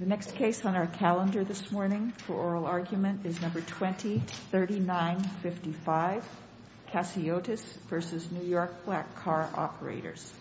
The next case on our calendar this morning for oral argument is number 203955, Cassiotis v. New York Black Car Operators.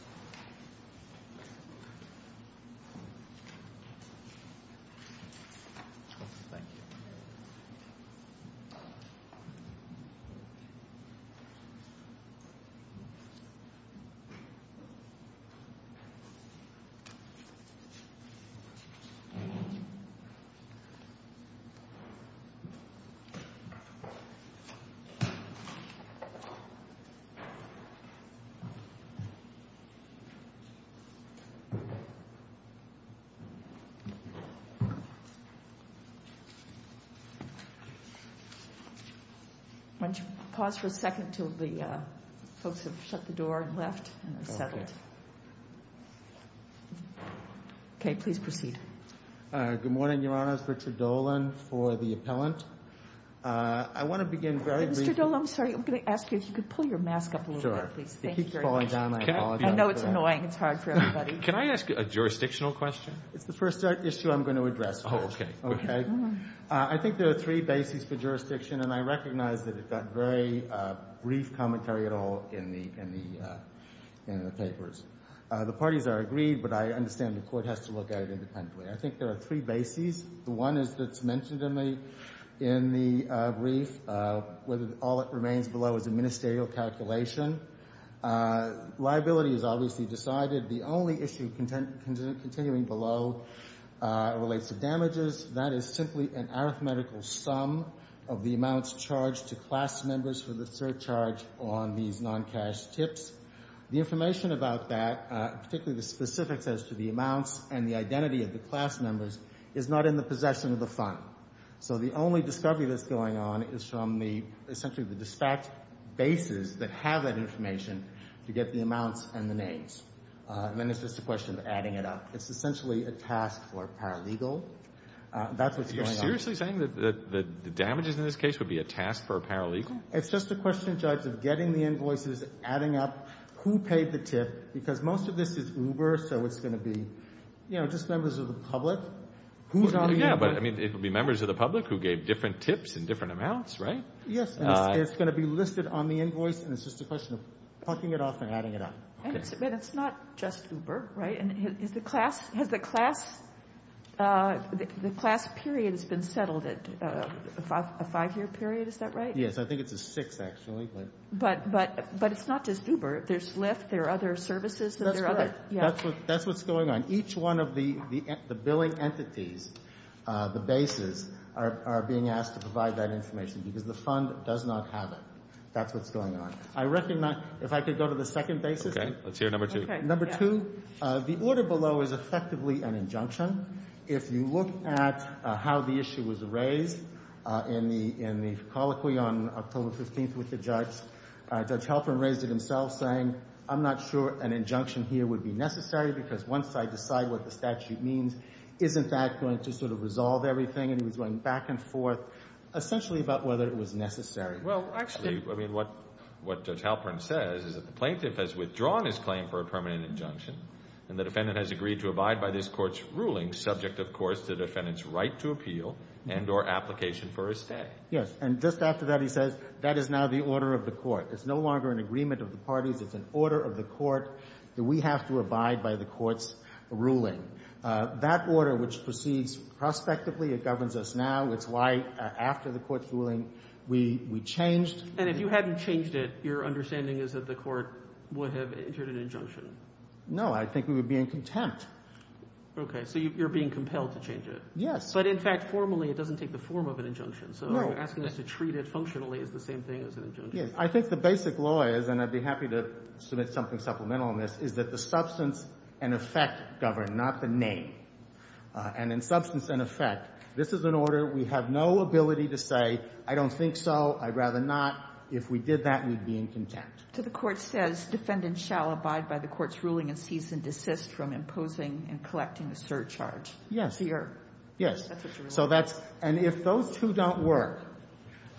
Why don't you pause for a second until the folks have shut the door and left and settled. Okay. Okay. Okay. Please proceed. Good morning, Your Honor. It's Richard Dolan for the appellant. I want to begin very briefly. Mr. Dolan, I'm sorry. I'm going to ask you if you could pull your mask up a little bit, please. Sure. Thank you very much. You keep falling down. I apologize for that. I know it's annoying. It's hard for everybody. Can I ask a jurisdictional question? It's the first issue I'm going to address. Oh, okay. Okay? I think there are three bases for jurisdiction, and I recognize that it got very brief commentary at all in the papers. The parties are agreed, but I understand the court has to look at it independently. I think there are three bases. The one is that's mentioned in the brief, where all that remains below is a ministerial calculation. Liability is obviously decided. The only issue continuing below relates to damages. That is simply an arithmetical sum of the amounts charged to class members for the surcharge on these non-cash tips. The information about that, particularly the specifics as to the amounts and the identity of the class members, is not in the possession of the fund. So the only discovery that's going on is from the, essentially, the dispatch bases that have that information to get the amounts and the names. And then it's just a question of adding it up. It's essentially a task for a paralegal. That's what's going on. You're seriously saying that the damages in this case would be a task for a paralegal? It's just a question, Judge, of getting the invoices, adding up who paid the tip, because most of this is Uber, so it's going to be just members of the public. Yeah, but it would be members of the public who gave different tips in different amounts, right? Yes, and it's going to be listed on the invoice, and it's just a question of plucking it off and adding it up. But it's not just Uber, right? Has the class period been settled at a five-year period? Is that right? Yes, I think it's a six, actually. But it's not just Uber. There's Lyft. There are other services. That's correct. That's what's going on. Each one of the billing entities, the bases, are being asked to provide that information because the fund does not have it. That's what's going on. I recognize, if I could go to the second basis. Okay, let's hear number two. Number two, the order below is effectively an injunction. If you look at how the issue was raised in the colloquy on October 15th with the judge, Judge Halpern raised it himself, saying, I'm not sure an injunction here would be necessary because once I decide what the statute means, isn't that going to sort of resolve everything? And he was going back and forth essentially about whether it was necessary. Well, actually, I mean, what Judge Halpern says is that the plaintiff has withdrawn his claim for a permanent injunction, and the defendant has agreed to abide by this court's ruling, subject, of course, to the defendant's right to appeal and or application for a stay. Yes, and just after that he says, that is now the order of the court. It's no longer an agreement of the parties. It's an order of the court that we have to abide by the court's ruling. That order, which proceeds prospectively, it governs us now. It's why after the court's ruling we changed. And if you hadn't changed it, your understanding is that the court would have entered an injunction. No, I think we would be in contempt. Okay. So you're being compelled to change it. Yes. But, in fact, formally it doesn't take the form of an injunction. So you're asking us to treat it functionally as the same thing as an injunction. I think the basic law is, and I'd be happy to submit something supplemental on this, is that the substance and effect govern, not the name. And in substance and effect, this is an order we have no ability to say, I don't think so, I'd rather not. If we did that, we'd be in contempt. So the court says defendants shall abide by the court's ruling and cease and desist from imposing and collecting a surcharge. Yes. That's what you're saying. Yes. And if those two don't work,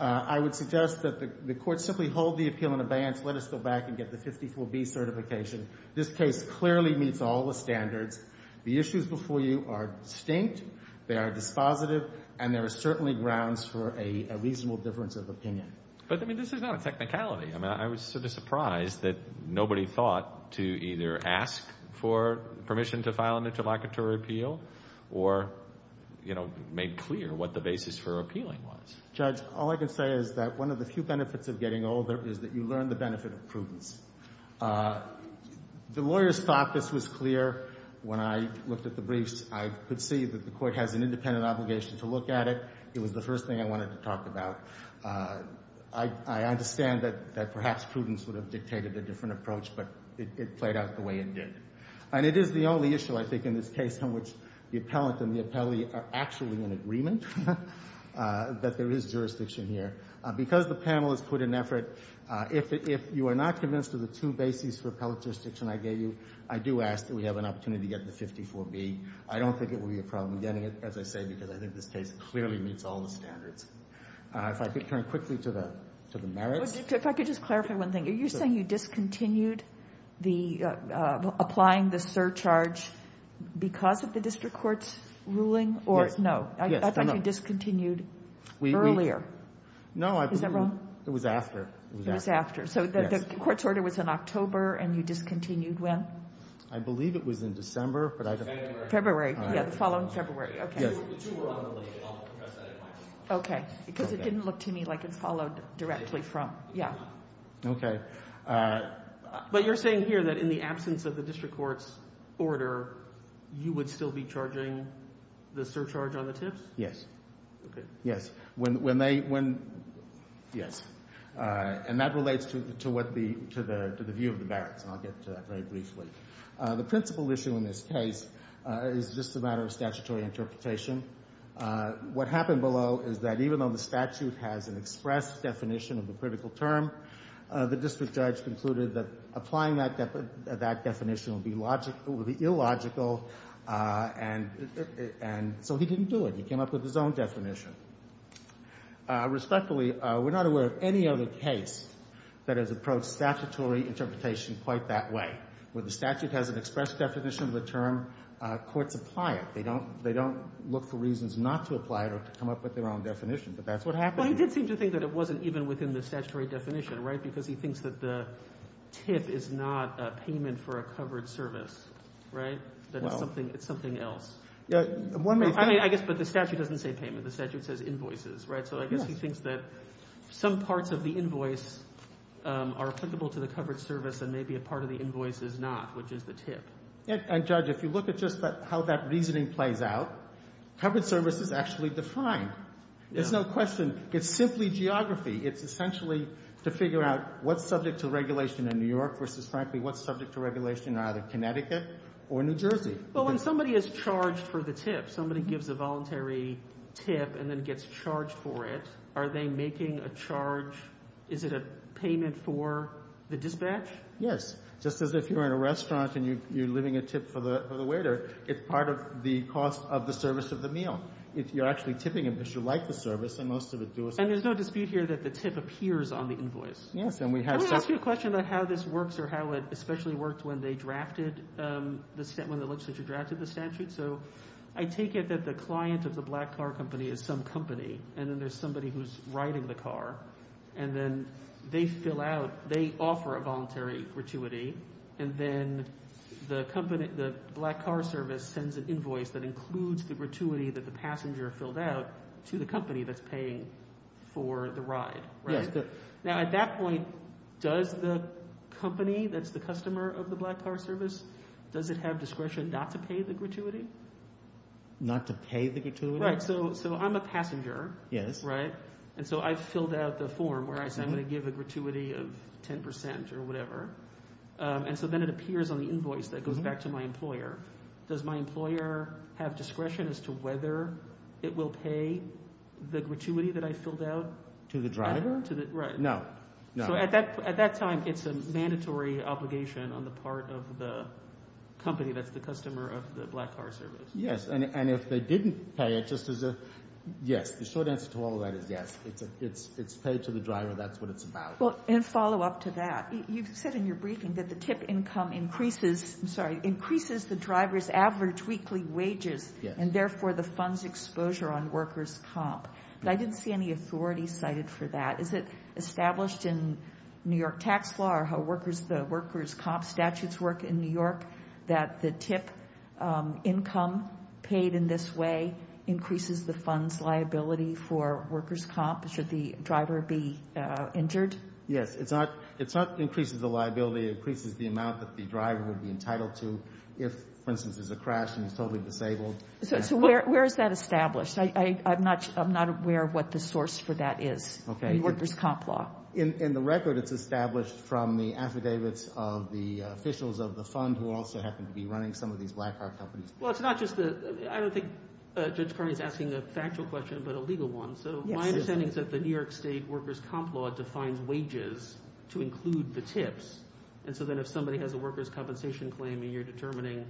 I would suggest that the court simply hold the appeal in abeyance, let us go back and get the 54B certification. This case clearly meets all the standards. The issues before you are distinct. They are dispositive. And there are certainly grounds for a reasonable difference of opinion. But, I mean, this is not a technicality. I mean, I was sort of surprised that nobody thought to either ask for permission to file an interlocutory appeal or, you know, made clear what the basis for appealing was. Judge, all I can say is that one of the few benefits of getting older is that you learn the benefit of prudence. The lawyers thought this was clear. When I looked at the briefs, I could see that the court has an independent obligation to look at it. It was the first thing I wanted to talk about. I understand that perhaps prudence would have dictated a different approach, but it played out the way it did. And it is the only issue, I think, in this case in which the appellant and the appellee are actually in agreement that there is jurisdiction here. Because the panel has put in effort, if you are not convinced of the two bases for appellate jurisdiction I gave you, I do ask that we have an opportunity to get the 54B. I don't think it will be a problem getting it, as I say, because I think this case clearly meets all the standards. If I could turn quickly to the merits. If I could just clarify one thing. Are you saying you discontinued applying the surcharge because of the district court's ruling or no? Yes. I thought you discontinued earlier. No. Is that wrong? It was after. It was after. Yes. The court's order was in October, and you discontinued when? I believe it was in December. February. February. Yeah, the following February. Okay. Yes. Okay. Because it didn't look to me like it was followed directly from. Yeah. Okay. But you're saying here that in the absence of the district court's order, you would still be charging the surcharge on the tips? Yes. Okay. Yes. Yes. And that relates to the view of the merits, and I'll get to that very briefly. The principal issue in this case is just a matter of statutory interpretation. What happened below is that even though the statute has an express definition of a critical term, the district judge concluded that applying that definition would be illogical, and so he didn't do it. He came up with his own definition. Respectfully, we're not aware of any other case that has approached statutory interpretation quite that way. When the statute has an express definition of the term, courts apply it. They don't look for reasons not to apply it or to come up with their own definition, but that's what happened. Well, he did seem to think that it wasn't even within the statutory definition, right, because he thinks that the tip is not a payment for a covered service, right, that it's something else. I guess but the statute doesn't say payment. The statute says invoices, right, so I guess he thinks that some parts of the invoice are applicable to the covered service and maybe a part of the invoice is not, which is the tip. And, Judge, if you look at just how that reasoning plays out, covered service is actually defined. There's no question. It's simply geography. It's essentially to figure out what's subject to regulation in New York versus, frankly, what's subject to regulation in either Connecticut or New Jersey. Well, when somebody is charged for the tip, somebody gives a voluntary tip and then gets charged for it, are they making a charge? Is it a payment for the dispatch? Yes. Just as if you're in a restaurant and you're leaving a tip for the waiter, it's part of the cost of the service of the meal. You're actually tipping them because you like the service and most of it does. And there's no dispute here that the tip appears on the invoice. Yes. Can I ask you a question about how this works or how it especially worked when they drafted the statute, when the legislature drafted the statute? So I take it that the client of the black car company is some company and then there's somebody who's riding the car and then they fill out, they offer a voluntary gratuity, and then the black car service sends an invoice that includes the gratuity that the passenger filled out to the company that's paying for the ride, right? Yes. Now at that point, does the company that's the customer of the black car service, does it have discretion not to pay the gratuity? Not to pay the gratuity? Right. So I'm a passenger. Yes. Right. And so I filled out the form where I said I'm going to give a gratuity of 10% or whatever. And so then it appears on the invoice that goes back to my employer. Does my employer have discretion as to whether it will pay the gratuity that I filled out? To the driver? Right. No. So at that time, it's a mandatory obligation on the part of the company that's the customer of the black car service. Yes. And if they didn't pay it, just as a yes, the short answer to all of that is yes. It's paid to the driver. That's what it's about. Well, in follow-up to that, you said in your briefing that the TIP income increases the driver's average weekly wages and therefore the fund's exposure on workers' comp. I didn't see any authority cited for that. Is it established in New York tax law or how workers' comp statutes work in New York that the TIP income paid in this way increases the fund's liability for workers' comp? Should the driver be injured? Yes. It's not increases the liability. It increases the amount that the driver would be entitled to if, for instance, there's a crash and he's totally disabled. So where is that established? I'm not aware of what the source for that is in workers' comp law. In the record, it's established from the affidavits of the officials of the fund who also happen to be running some of these black car companies. Well, it's not just the – I don't think Judge Carney is asking a factual question but a legal one. So my understanding is that the New York State workers' comp law defines wages to include the TIPs. And so then if somebody has a workers' compensation claim and you're determining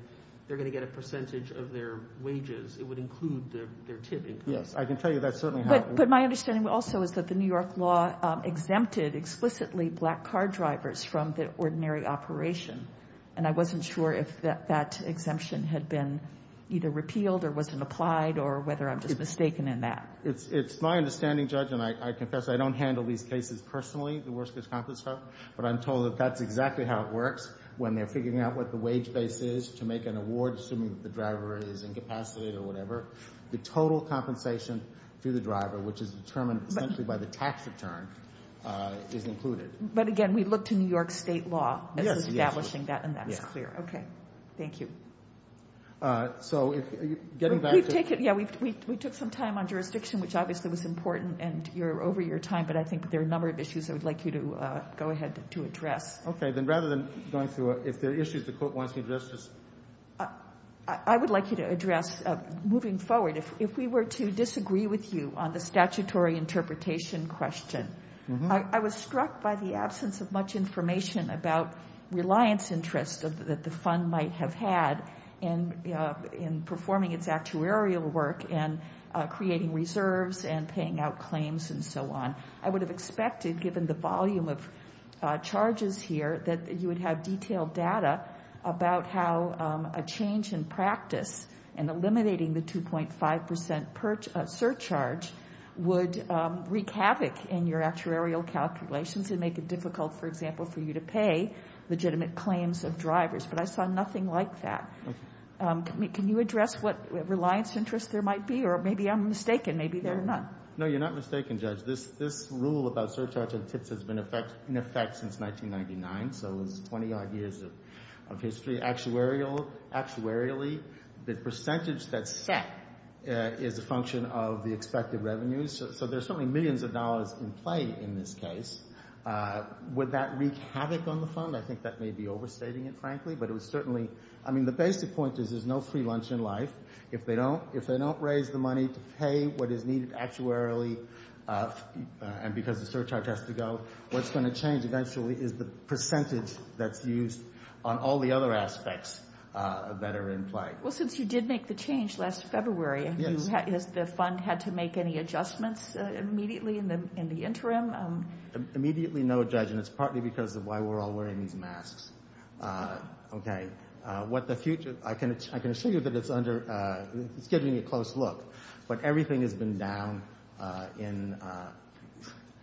they're going to get a percentage of their wages, it would include their TIP increase. Yes, I can tell you that's certainly how it works. But my understanding also is that the New York law exempted explicitly black car drivers from the ordinary operation. And I wasn't sure if that exemption had been either repealed or wasn't applied or whether I'm just mistaken in that. It's my understanding, Judge, and I confess I don't handle these cases personally, the workers' comp stuff, but I'm told that that's exactly how it works when they're figuring out what the wage base is to make an award, assuming the driver is incapacitated or whatever. The total compensation to the driver, which is determined essentially by the tax return, is included. But, again, we look to New York State law as establishing that, and that is clear. Yes. Okay. Thank you. So getting back to – We've taken – yeah, we took some time on jurisdiction, which obviously was important, and you're over your time, but I think there are a number of issues I would like you to go ahead to address. Okay. Then rather than going through it, if there are issues the court wants me to address, just – I would like you to address, moving forward, if we were to disagree with you on the statutory interpretation question, I was struck by the absence of much information about reliance interests that the fund might have had in performing its actuarial work and creating reserves and paying out claims and so on. I would have expected, given the volume of charges here, that you would have detailed data about how a change in practice and eliminating the 2.5 percent surcharge would wreak havoc in your actuarial calculations and make it difficult, for example, for you to pay legitimate claims of drivers. But I saw nothing like that. Okay. Can you address what reliance interests there might be? Or maybe I'm mistaken. Maybe they're not. No, you're not mistaken, Judge. This rule about surcharge on tips has been in effect since 1999, so it's 20-odd years of history. Actuarially, the percentage that's set is a function of the expected revenues. So there's certainly millions of dollars in play in this case. Would that wreak havoc on the fund? I think that may be overstating it, frankly, but it was certainly – I mean, the basic point is there's no free lunch in life. If they don't raise the money to pay what is needed actuarially and because the surcharge has to go, what's going to change eventually is the percentage that's used on all the other aspects that are in play. Well, since you did make the change last February, has the fund had to make any adjustments immediately in the interim? Immediately, no, Judge, and it's partly because of why we're all wearing these masks. Okay. And what the future – I can assure you that it's under – it's giving you a close look, but everything has been down in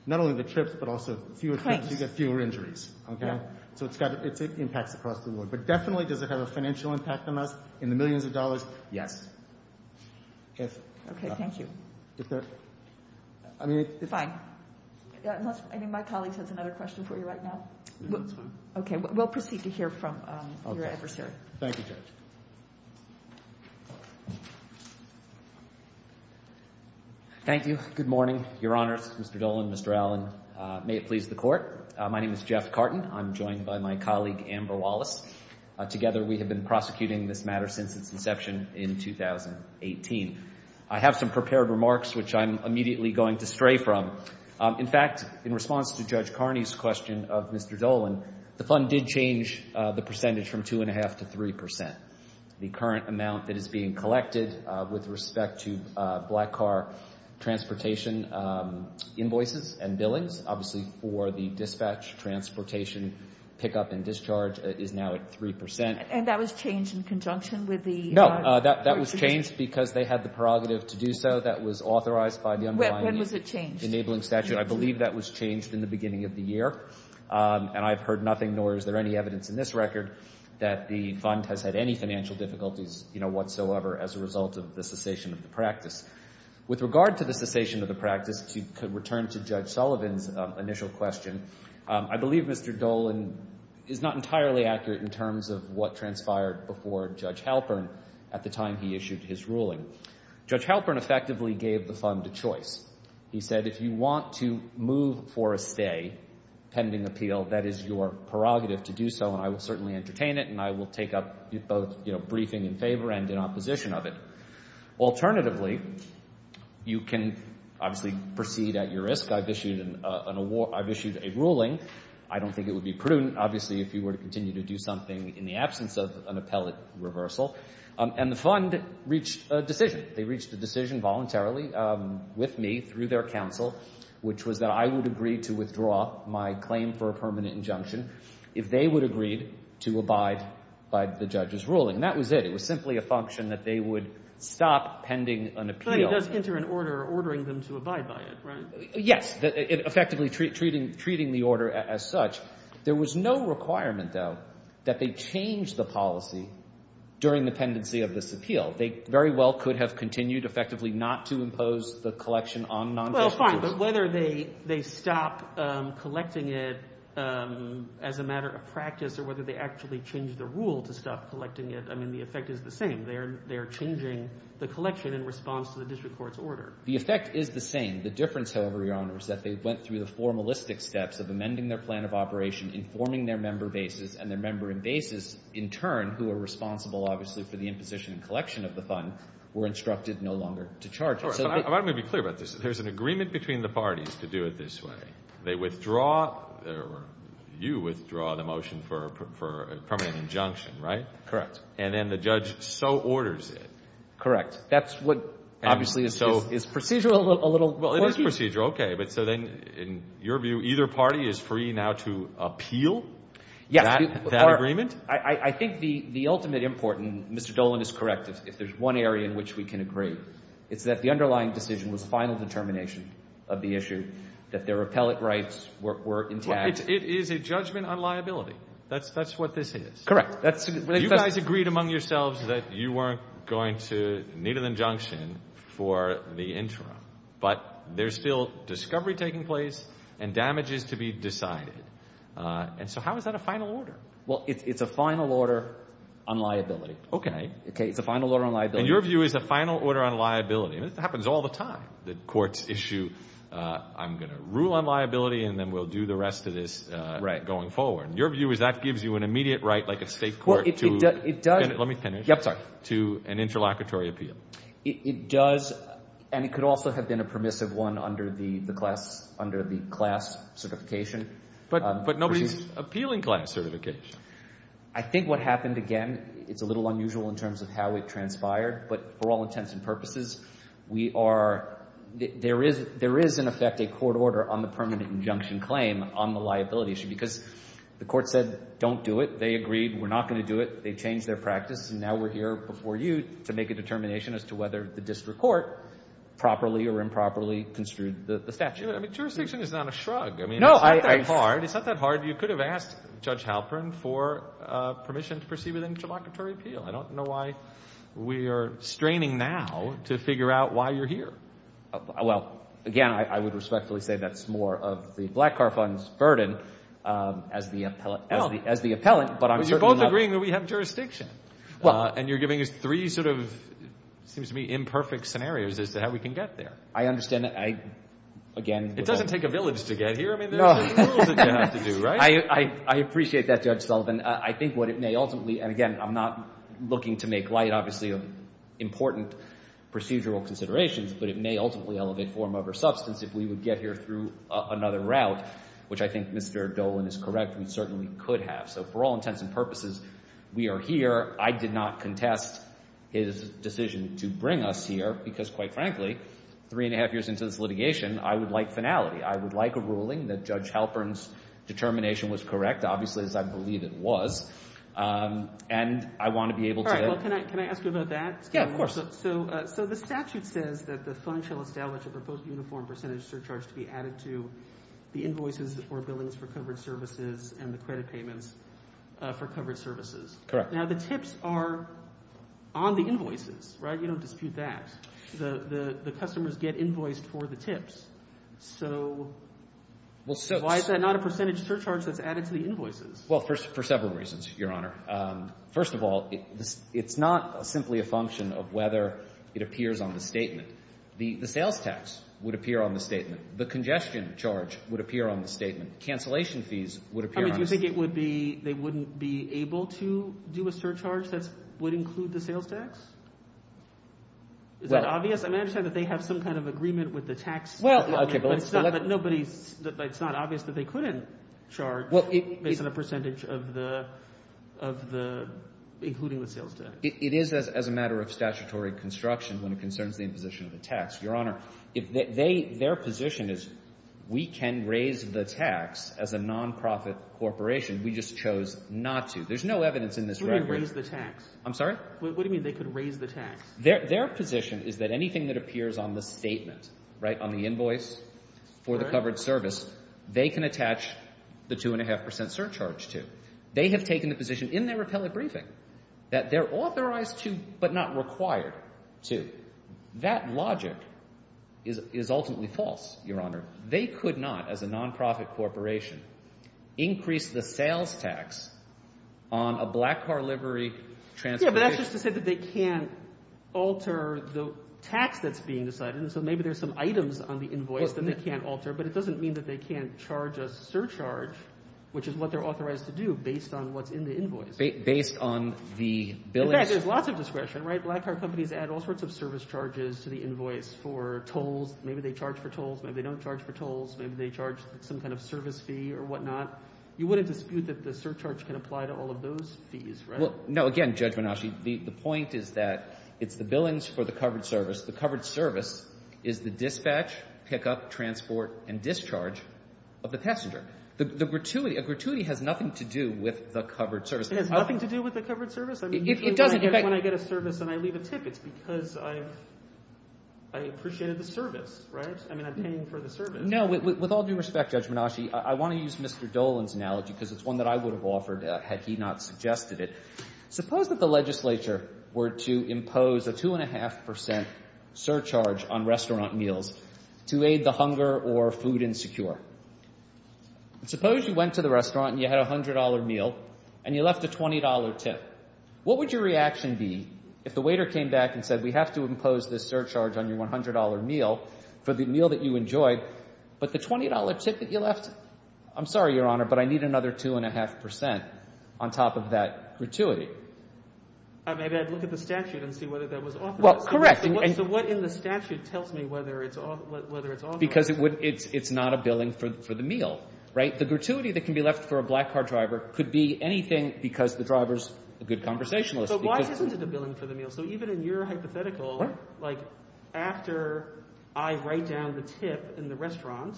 not only the trips but also fewer trips. Cranks. You get fewer injuries, okay? Yeah. So it impacts across the board. But definitely does it have a financial impact on us in the millions of dollars? Yes. Okay, thank you. Fine. I think my colleague has another question for you right now. That's fine. Okay, we'll proceed to hear from your adversary. Thank you, Judge. Thank you. Good morning, Your Honors, Mr. Dolan, Mr. Allen. May it please the Court. My name is Jeff Carton. I'm joined by my colleague, Amber Wallace. Together we have been prosecuting this matter since its inception in 2018. I have some prepared remarks, which I'm immediately going to stray from. In fact, in response to Judge Carney's question of Mr. Dolan, the fund did change the percentage from 2.5% to 3%. The current amount that is being collected with respect to black car transportation invoices and billings, obviously, for the dispatch, transportation, pickup, and discharge is now at 3%. And that was changed in conjunction with the – No, that was changed because they had the prerogative to do so. That was authorized by the – When was it changed? Enabling statute. I believe that was changed in the beginning of the year. And I've heard nothing, nor is there any evidence in this record, that the fund has had any financial difficulties, you know, whatsoever as a result of the cessation of the practice. With regard to the cessation of the practice, to return to Judge Sullivan's initial question, I believe Mr. Dolan is not entirely accurate in terms of what transpired before Judge Halpern at the time he issued his ruling. Judge Halpern effectively gave the fund a choice. He said if you want to move for a stay pending appeal, that is your prerogative to do so, and I will certainly entertain it, and I will take up both, you know, briefing in favor and in opposition of it. Alternatively, you can obviously proceed at your risk. I've issued a ruling. I don't think it would be prudent, obviously, if you were to continue to do something in the absence of an appellate reversal. And the fund reached a decision. They reached a decision voluntarily with me through their counsel, which was that I would agree to withdraw my claim for a permanent injunction if they would agree to abide by the judge's ruling. And that was it. It was simply a function that they would stop pending an appeal. But it does enter an order ordering them to abide by it, right? Yes, effectively treating the order as such. There was no requirement, though, that they change the policy during the pendency of this appeal. They very well could have continued effectively not to impose the collection on non-judges. Well, fine, but whether they stop collecting it as a matter of practice or whether they actually change the rule to stop collecting it, I mean, the effect is the same. They are changing the collection in response to the district court's order. The effect is the same. The difference, however, Your Honors, is that they went through the formalistic steps of amending their plan of operation, informing their member bases, and their member bases, in turn, who are responsible obviously for the imposition and collection of the fund, were instructed no longer to charge it. All right. But I want to be clear about this. There's an agreement between the parties to do it this way. They withdraw or you withdraw the motion for a permanent injunction, right? Correct. And then the judge so orders it. Correct. That's what obviously is procedural a little. Well, it is procedural. Okay. But so then in your view, either party is free now to appeal that agreement? Yes. I think the ultimate important, Mr. Dolan is correct, if there's one area in which we can agree, it's that the underlying decision was final determination of the issue, that their appellate rights were intact. It is a judgment on liability. That's what this is. Correct. You guys agreed among yourselves that you weren't going to need an injunction for the interim, but there's still discovery taking place and damages to be decided. And so how is that a final order? Well, it's a final order on liability. Okay. It's a final order on liability. And your view is a final order on liability. And this happens all the time. The courts issue, I'm going to rule on liability and then we'll do the rest of this going forward. Your view is that gives you an immediate right like a state court to an interlocutory appeal. It does. And it could also have been a permissive one under the class certification. But nobody's appealing class certification. I think what happened, again, it's a little unusual in terms of how it transpired. But for all intents and purposes, we are – there is in effect a court order on the permanent injunction claim on the liability issue because the court said don't do it. They agreed we're not going to do it. They changed their practice. And now we're here before you to make a determination as to whether the district court properly or improperly construed the statute. I mean, jurisdiction is not a shrug. I mean, it's not that hard. It's not that hard. You could have asked Judge Halperin for permission to proceed with an interlocutory appeal. I don't know why we are straining now to figure out why you're here. Well, again, I would respectfully say that's more of the black car fund's burden as the appellant. But you're both agreeing that we have jurisdiction. And you're giving us three sort of, it seems to me, imperfect scenarios as to how we can get there. I understand that. Again. It doesn't take a village to get here. I mean, there's rules that you have to do, right? I appreciate that, Judge Sullivan. I think what it may ultimately – and, again, I'm not looking to make light, obviously, of important procedural considerations, but it may ultimately elevate form over substance if we would get here through another route, which I think Mr. Dolan is correct. We certainly could have. So for all intents and purposes, we are here. I did not contest his decision to bring us here because, quite frankly, three and a half years into this litigation, I would like finality. I would like a ruling that Judge Halperin's determination was correct, obviously, as I believe it was, and I want to be able to – All right. Well, can I ask you about that? Yeah, of course. So the statute says that the fund shall establish a proposed uniform percentage surcharge to be added to the invoices or billings for covered services and the credit payments for covered services. Correct. Now, the tips are on the invoices, right? You don't dispute that. The customers get invoiced for the tips. So why is that not a percentage surcharge that's added to the invoices? Well, for several reasons, Your Honor. First of all, it's not simply a function of whether it appears on the statement. The sales tax would appear on the statement. The congestion charge would appear on the statement. Cancellation fees would appear on the statement. I mean, do you think it would be – they wouldn't be able to do a surcharge that would include the sales tax? Is that obvious? I mean, I understand that they have some kind of agreement with the tax – Well, okay, but let's – But it's not obvious that they couldn't charge based on a percentage of the – including the sales tax. It is as a matter of statutory construction when it concerns the imposition of the tax. Your Honor, their position is we can raise the tax as a nonprofit corporation. We just chose not to. There's no evidence in this record – What do you mean raise the tax? I'm sorry? What do you mean they could raise the tax? Their position is that anything that appears on the statement, right, on the invoice for the covered service, they can attach the 2.5 percent surcharge to. They have taken the position in their appellate briefing that they're authorized to but not required to. That logic is ultimately false, Your Honor. They could not, as a nonprofit corporation, increase the sales tax on a black car livery transportation – Yeah, but that's just to say that they can't alter the tax that's being decided. So maybe there's some items on the invoice that they can't alter, but it doesn't mean that they can't charge a surcharge, which is what they're authorized to do based on what's in the invoice. Based on the billings? In fact, there's lots of discretion, right? Black car companies add all sorts of service charges to the invoice for tolls. Maybe they charge for tolls. Maybe they don't charge for tolls. Maybe they charge some kind of service fee or whatnot. You wouldn't dispute that the surcharge can apply to all of those fees, right? No. Again, Judge Menasci, the point is that it's the billings for the covered service. The covered service is the dispatch, pickup, transport, and discharge of the passenger. A gratuity has nothing to do with the covered service. It has nothing to do with the covered service? It doesn't. If I get a service and I leave a tip, it's because I appreciated the service, right? I mean, I'm paying for the service. No, with all due respect, Judge Menasci, I want to use Mr. Dolan's analogy because it's one that I would have offered had he not suggested it. Suppose that the legislature were to impose a 2.5 percent surcharge on restaurant meals to aid the hunger or food insecure. Suppose you went to the restaurant and you had a $100 meal and you left a $20 tip. What would your reaction be if the waiter came back and said, we have to impose this surcharge on your $100 meal for the meal that you enjoyed, but the $20 tip that you left, I'm sorry, Your Honor, but I need another 2.5 percent on top of that gratuity. Maybe I'd look at the statute and see whether that was offered. Well, correct. So what in the statute tells me whether it's offered? Because it's not a billing for the meal, right? The gratuity that can be left for a black card driver could be anything because the driver's a good conversationalist. So why isn't it a billing for the meal? So even in your hypothetical, like after I write down the tip in the restaurant,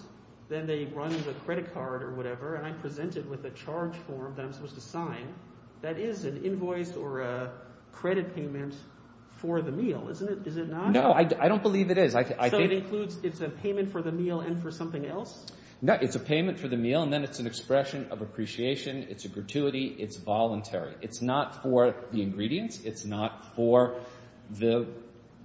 then they run the credit card or whatever, and I present it with a charge form that I'm supposed to sign, that is an invoice or a credit payment for the meal, isn't it? Is it not? No, I don't believe it is. So it includes it's a payment for the meal and for something else? No, it's a payment for the meal, and then it's an expression of appreciation. It's a gratuity. It's voluntary. It's not for the ingredients. It's not for the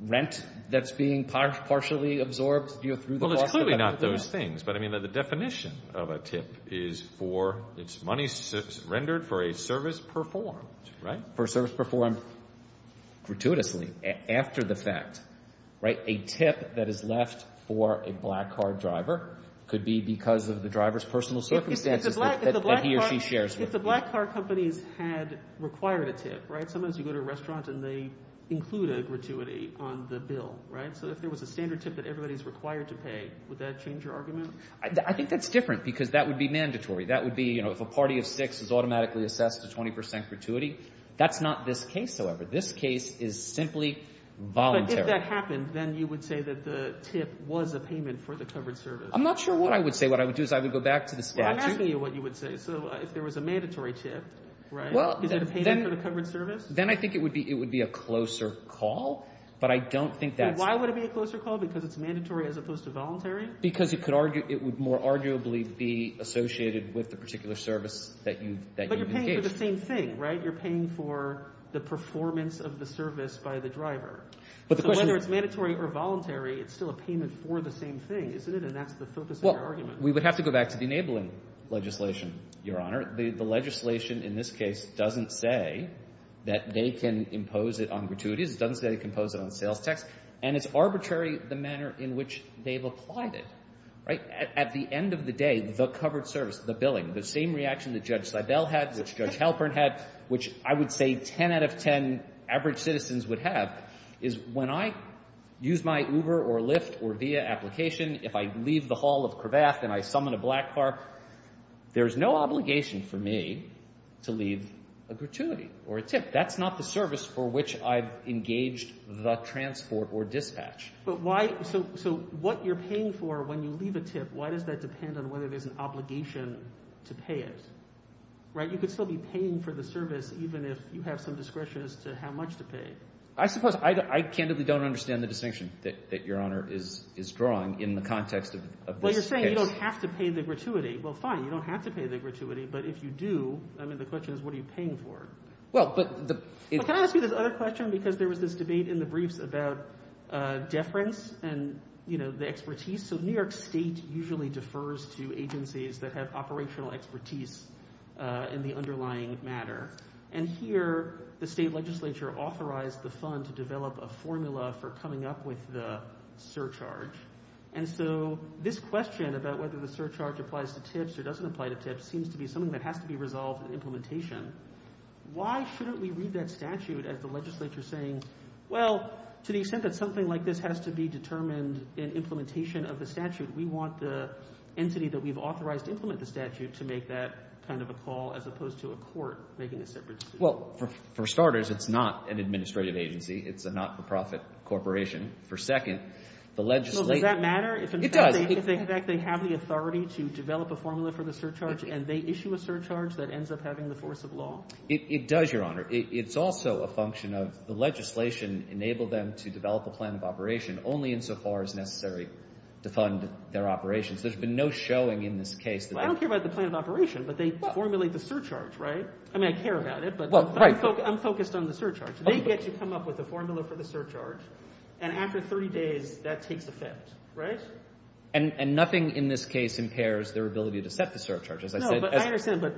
rent that's being partially absorbed. Well, it's clearly not those things, but, I mean, the definition of a tip is for it's money rendered for a service performed, right? For a service performed gratuitously after the fact, right? A tip that is left for a black car driver could be because of the driver's personal circumstances that he or she shares with them. If the black car companies had required a tip, right? Sometimes you go to a restaurant and they include a gratuity on the bill, right? So if there was a standard tip that everybody's required to pay, would that change your argument? I think that's different because that would be mandatory. That would be, you know, if a party of six is automatically assessed to 20% gratuity. That's not this case, however. This case is simply voluntary. But if that happened, then you would say that the tip was a payment for the covered service. I'm not sure what I would say. What I would do is I would go back to the statute. Well, I'm asking you what you would say. So if there was a mandatory tip, right, is it a payment for the covered service? Then I think it would be a closer call, but I don't think that's... Why would it be a closer call? Because it's mandatory as opposed to voluntary? Because it would more arguably be associated with the particular service that you've engaged. But you're paying for the same thing, right? You're paying for the performance of the service by the driver. So whether it's mandatory or voluntary, it's still a payment for the same thing, isn't it? And that's the focus of your argument. Well, we would have to go back to the enabling legislation, Your Honor. The legislation in this case doesn't say that they can impose it on gratuities. It doesn't say they can impose it on sales tax. And it's arbitrary the manner in which they've applied it, right? At the end of the day, the covered service, the billing, the same reaction that Judge Seibel had, which Judge Halpern had, which I would say 10 out of 10 average citizens would have, is when I use my Uber or Lyft or Via application, if I leave the Hall of Kravath and I summon a black car, there's no obligation for me to leave a gratuity or a tip. That's not the service for which I've engaged the transport or dispatch. But why? So what you're paying for when you leave a tip, why does that depend on whether there's an obligation to pay it, right? You could still be paying for the service even if you have some discretion as to how much to pay. I suppose I candidly don't understand the distinction that Your Honor is drawing in the context of this case. Well, you're saying you don't have to pay the gratuity. Well, fine, you don't have to pay the gratuity. But if you do, I mean, the question is what are you paying for? Well, but the— Can I ask you this other question? Because there was this debate in the briefs about deference and the expertise. So New York State usually defers to agencies that have operational expertise in the underlying matter. And here the state legislature authorized the fund to develop a formula for coming up with the surcharge. And so this question about whether the surcharge applies to tips or doesn't apply to tips seems to be something that has to be resolved in implementation. Why shouldn't we read that statute as the legislature saying, Well, to the extent that something like this has to be determined in implementation of the statute, we want the entity that we've authorized to implement the statute to make that kind of a call as opposed to a court making a separate decision. Well, for starters, it's not an administrative agency. It's a not-for-profit corporation. For second, the legislature— So does that matter? It does. In fact, they have the authority to develop a formula for the surcharge, and they issue a surcharge that ends up having the force of law? It does, Your Honor. It's also a function of the legislation enable them to develop a plan of operation only insofar as necessary to fund their operations. There's been no showing in this case that they— Well, I don't care about the plan of operation, but they formulate the surcharge, right? I mean, I care about it, but I'm focused on the surcharge. They get to come up with a formula for the surcharge, and after 30 days, that takes effect, right? And nothing in this case impairs their ability to set the surcharge, as I said. No, but I understand. My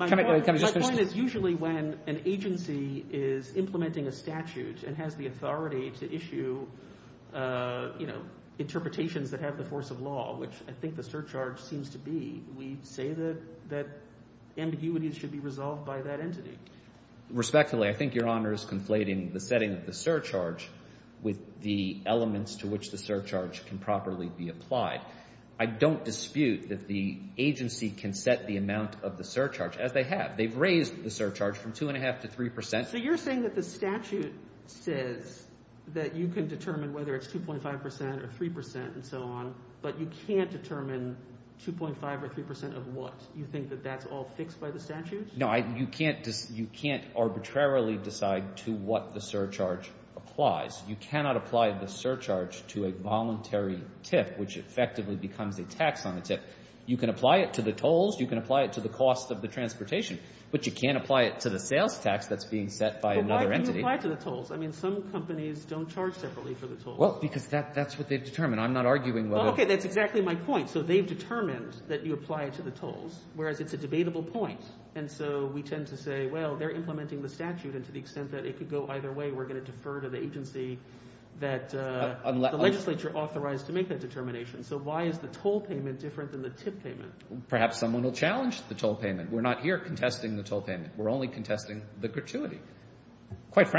point is usually when an agency is implementing a statute and has the authority to issue, you know, interpretations that have the force of law, which I think the surcharge seems to be, we say that ambiguities should be resolved by that entity. Respectfully, I think Your Honor is conflating the setting of the surcharge with the elements to which the surcharge can properly be applied. I don't dispute that the agency can set the amount of the surcharge, as they have. They've raised the surcharge from 2.5% to 3%. So you're saying that the statute says that you can determine whether it's 2.5% or 3% and so on, but you can't determine 2.5% or 3% of what? You think that that's all fixed by the statute? No, you can't arbitrarily decide to what the surcharge applies. You cannot apply the surcharge to a voluntary tip, which effectively becomes a tax on a tip. You can apply it to the tolls. You can apply it to the cost of the transportation. But you can't apply it to the sales tax that's being set by another entity. But why would you apply it to the tolls? I mean, some companies don't charge separately for the tolls. Well, because that's what they've determined. I'm not arguing whether— Okay, that's exactly my point. So they've determined that you apply it to the tolls, whereas it's a debatable point. And so we tend to say, well, they're implementing the statute, and to the extent that it could go either way, we're going to defer to the agency that the legislature authorized to make that determination. So why is the toll payment different than the tip payment? Perhaps someone will challenge the toll payment. We're not here contesting the toll payment. We're only contesting the gratuity. If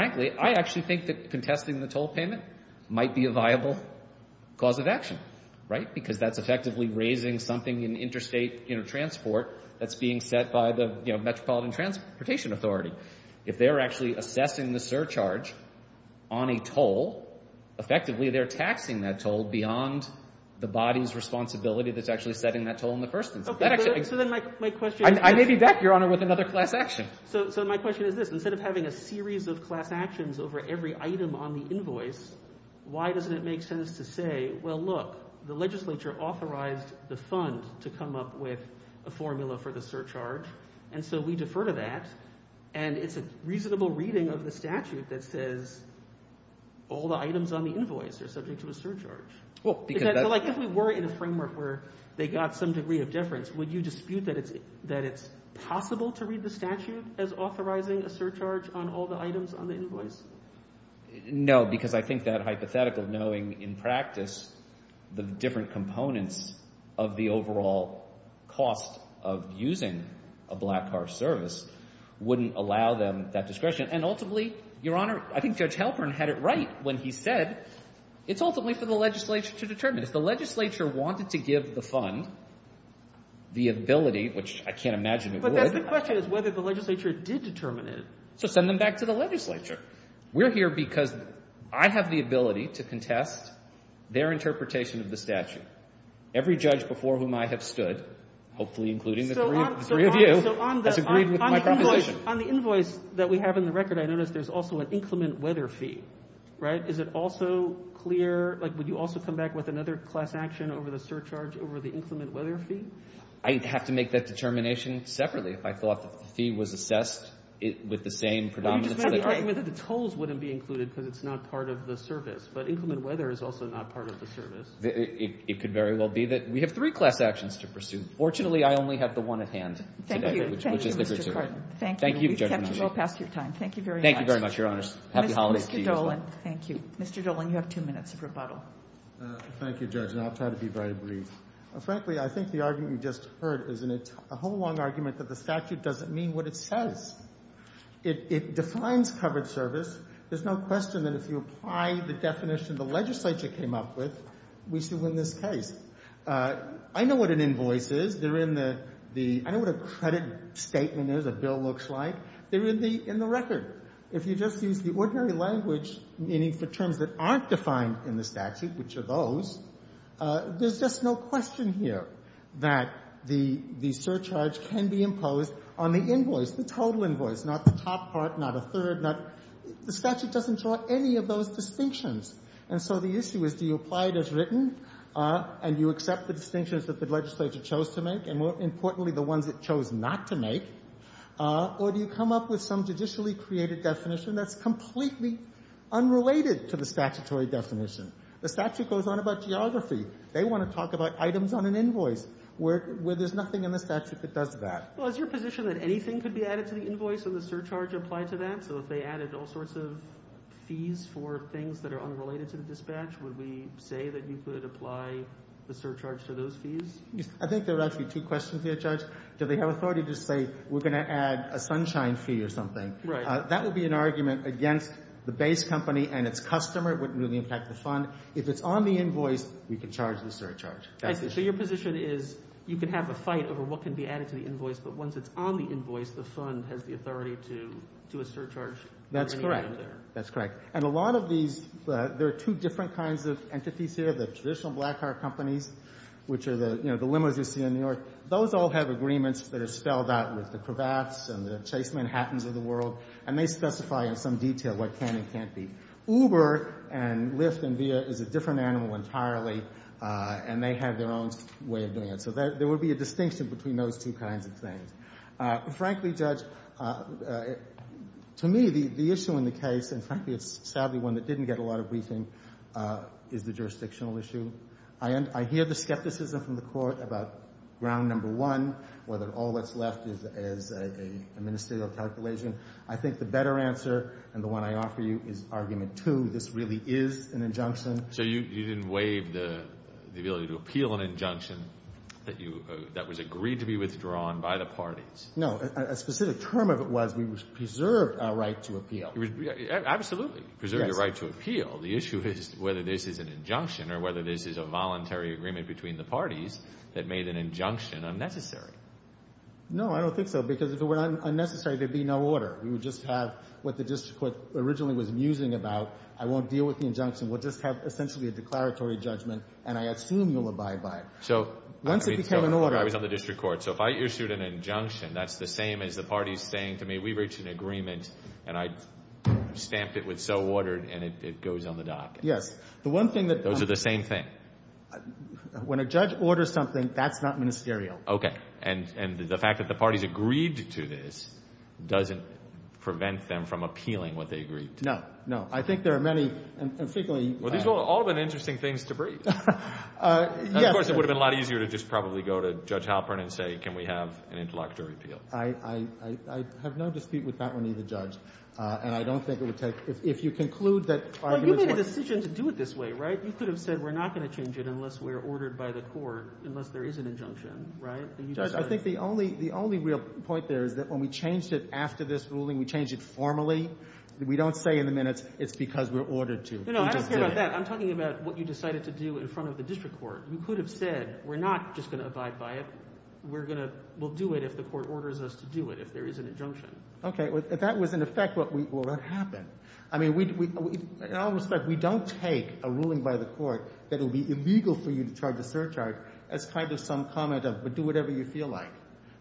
they're actually assessing the surcharge on a toll, effectively they're taxing that toll beyond the body's responsibility that's actually setting that toll in the first instance. So then my question is— I may be back, Your Honor, with another class action. So my question is this. over every item on the invoice, why doesn't it make sense to say, well, look, the legislature authorized the fund to come up with a formula for the surcharge, and so we defer to that. And it's a reasonable reading of the statute that says all the items on the invoice are subject to a surcharge. If we were in a framework where they got some degree of deference, would you dispute that it's possible to read the statute as authorizing a surcharge on all the items on the invoice? No, because I think that hypothetical knowing in practice the different components of the overall cost of using a black car service wouldn't allow them that discretion. And ultimately, Your Honor, I think Judge Halpern had it right when he said it's ultimately for the legislature to determine. If the legislature wanted to give the fund the ability, which I can't imagine it would— But that's the question, is whether the legislature did determine it. So send them back to the legislature. We're here because I have the ability to contest their interpretation of the statute. Every judge before whom I have stood, hopefully including the three of you, has agreed with my proposition. On the invoice that we have in the record, I noticed there's also an inclement weather fee, right? Is it also clear—like, would you also come back with another class action over the surcharge over the inclement weather fee? I'd have to make that determination separately if I thought the fee was assessed with the same predominance. You just made the argument that the tolls wouldn't be included because it's not part of the service. But inclement weather is also not part of the service. It could very well be that we have three class actions to pursue. Fortunately, I only have the one at hand today, which is the gratuity. Thank you. We've kept you well past your time. Thank you very much. Thank you very much, Your Honors. Happy holidays to you as well. Mr. Dolan, thank you. Mr. Dolan, you have two minutes of rebuttal. Thank you, Judge, and I'll try to be very brief. Frankly, I think the argument you just heard is a whole long argument that the statute doesn't mean what it says. It defines covered service. There's no question that if you apply the definition the legislature came up with, we still win this case. I know what an invoice is. They're in the ‑‑ I know what a credit statement is, a bill looks like. They're in the record. If you just use the ordinary language, meaning for terms that aren't defined in the statute, which are those, there's just no question here that the surcharge can be imposed on the invoice, the total invoice, not the top part, not a third, not ‑‑ the statute doesn't draw any of those distinctions. And so the issue is do you apply it as written and you accept the distinctions that the legislature chose to make and, more importantly, the ones it chose not to make, or do you come up with some judicially created definition that's completely unrelated to the statutory definition? The statute goes on about geography. They want to talk about items on an invoice where there's nothing in the statute that does that. Well, is your position that anything could be added to the invoice and the surcharge applied to that? So if they added all sorts of fees for things that are unrelated to the dispatch, would we say that you could apply the surcharge to those fees? I think there are actually two questions here, Judge. Do they have authority to say we're going to add a sunshine fee or something? Right. That would be an argument against the base company and its customer. It wouldn't really impact the fund. If it's on the invoice, we can charge the surcharge. But once it's on the invoice, the fund has the authority to do a surcharge. That's correct. That's correct. And a lot of these, there are two different kinds of entities here. The traditional black car companies, which are the limos you see in New York, those all have agreements that are spelled out with the Cravats and the Chase Manhattans of the world, and they specify in some detail what can and can't be. Uber and Lyft and Via is a different animal entirely, and they have their own way of doing it. So there would be a distinction between those two kinds of things. Frankly, Judge, to me, the issue in the case, and frankly it's sadly one that didn't get a lot of briefing, is the jurisdictional issue. I hear the skepticism from the Court about ground number one, whether all that's left is a ministerial calculation. I think the better answer and the one I offer you is argument two. This really is an injunction. So you didn't waive the ability to appeal an injunction that was agreed to be withdrawn by the parties? No. A specific term of it was we preserved our right to appeal. Absolutely. Preserved your right to appeal. The issue is whether this is an injunction or whether this is a voluntary agreement between the parties that made an injunction unnecessary. No, I don't think so, because if it were unnecessary, there would be no order. We would just have what the district court originally was musing about. I won't deal with the injunction. We'll just have essentially a declaratory judgment, and I assume you'll abide by it. So once it became an order. I was on the district court. So if I issued an injunction, that's the same as the parties saying to me we reached an agreement, and I stamped it with so ordered, and it goes on the dock. Yes. Those are the same thing. When a judge orders something, that's not ministerial. Okay. And the fact that the parties agreed to this doesn't prevent them from appealing what they agreed to. No, no. I think there are many, and frequently. Well, these have all been interesting things to breathe. Yes. Of course, it would have been a lot easier to just probably go to Judge Halpern and say can we have an interlocutory appeal. I have no dispute with that one either, Judge, and I don't think it would take. If you conclude that. Well, you made a decision to do it this way, right? You could have said we're not going to change it unless we're ordered by the court, unless there is an injunction, right? Judge, I think the only real point there is that when we changed it after this ruling, we changed it formally. We don't say in the minutes it's because we're ordered to. No, no. I don't care about that. I'm talking about what you decided to do in front of the district court. You could have said we're not just going to abide by it. We're going to do it if the court orders us to do it, if there is an injunction. Okay. If that was in effect, well, that happened. I mean, in all respect, we don't take a ruling by the court that it would be illegal for you to charge a surcharge as kind of some comment of do whatever you feel like.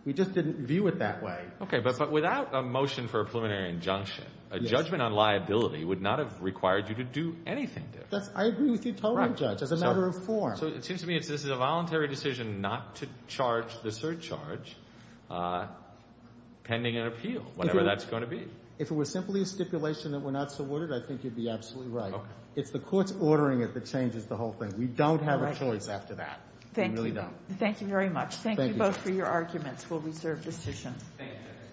We just didn't view it that way. Okay. But without a motion for a preliminary injunction, a judgment on liability would not have required you to do anything different. I agree with you totally, Judge, as a matter of form. So it seems to me this is a voluntary decision not to charge the surcharge pending an appeal, whatever that's going to be. If it was simply a stipulation that we're not subordinated, I think you'd be absolutely right. It's the court's ordering it that changes the whole thing. We don't have a choice after that. We really don't. Thank you. Thank you very much. Thank you both for your arguments. We'll reserve the session. Thank you.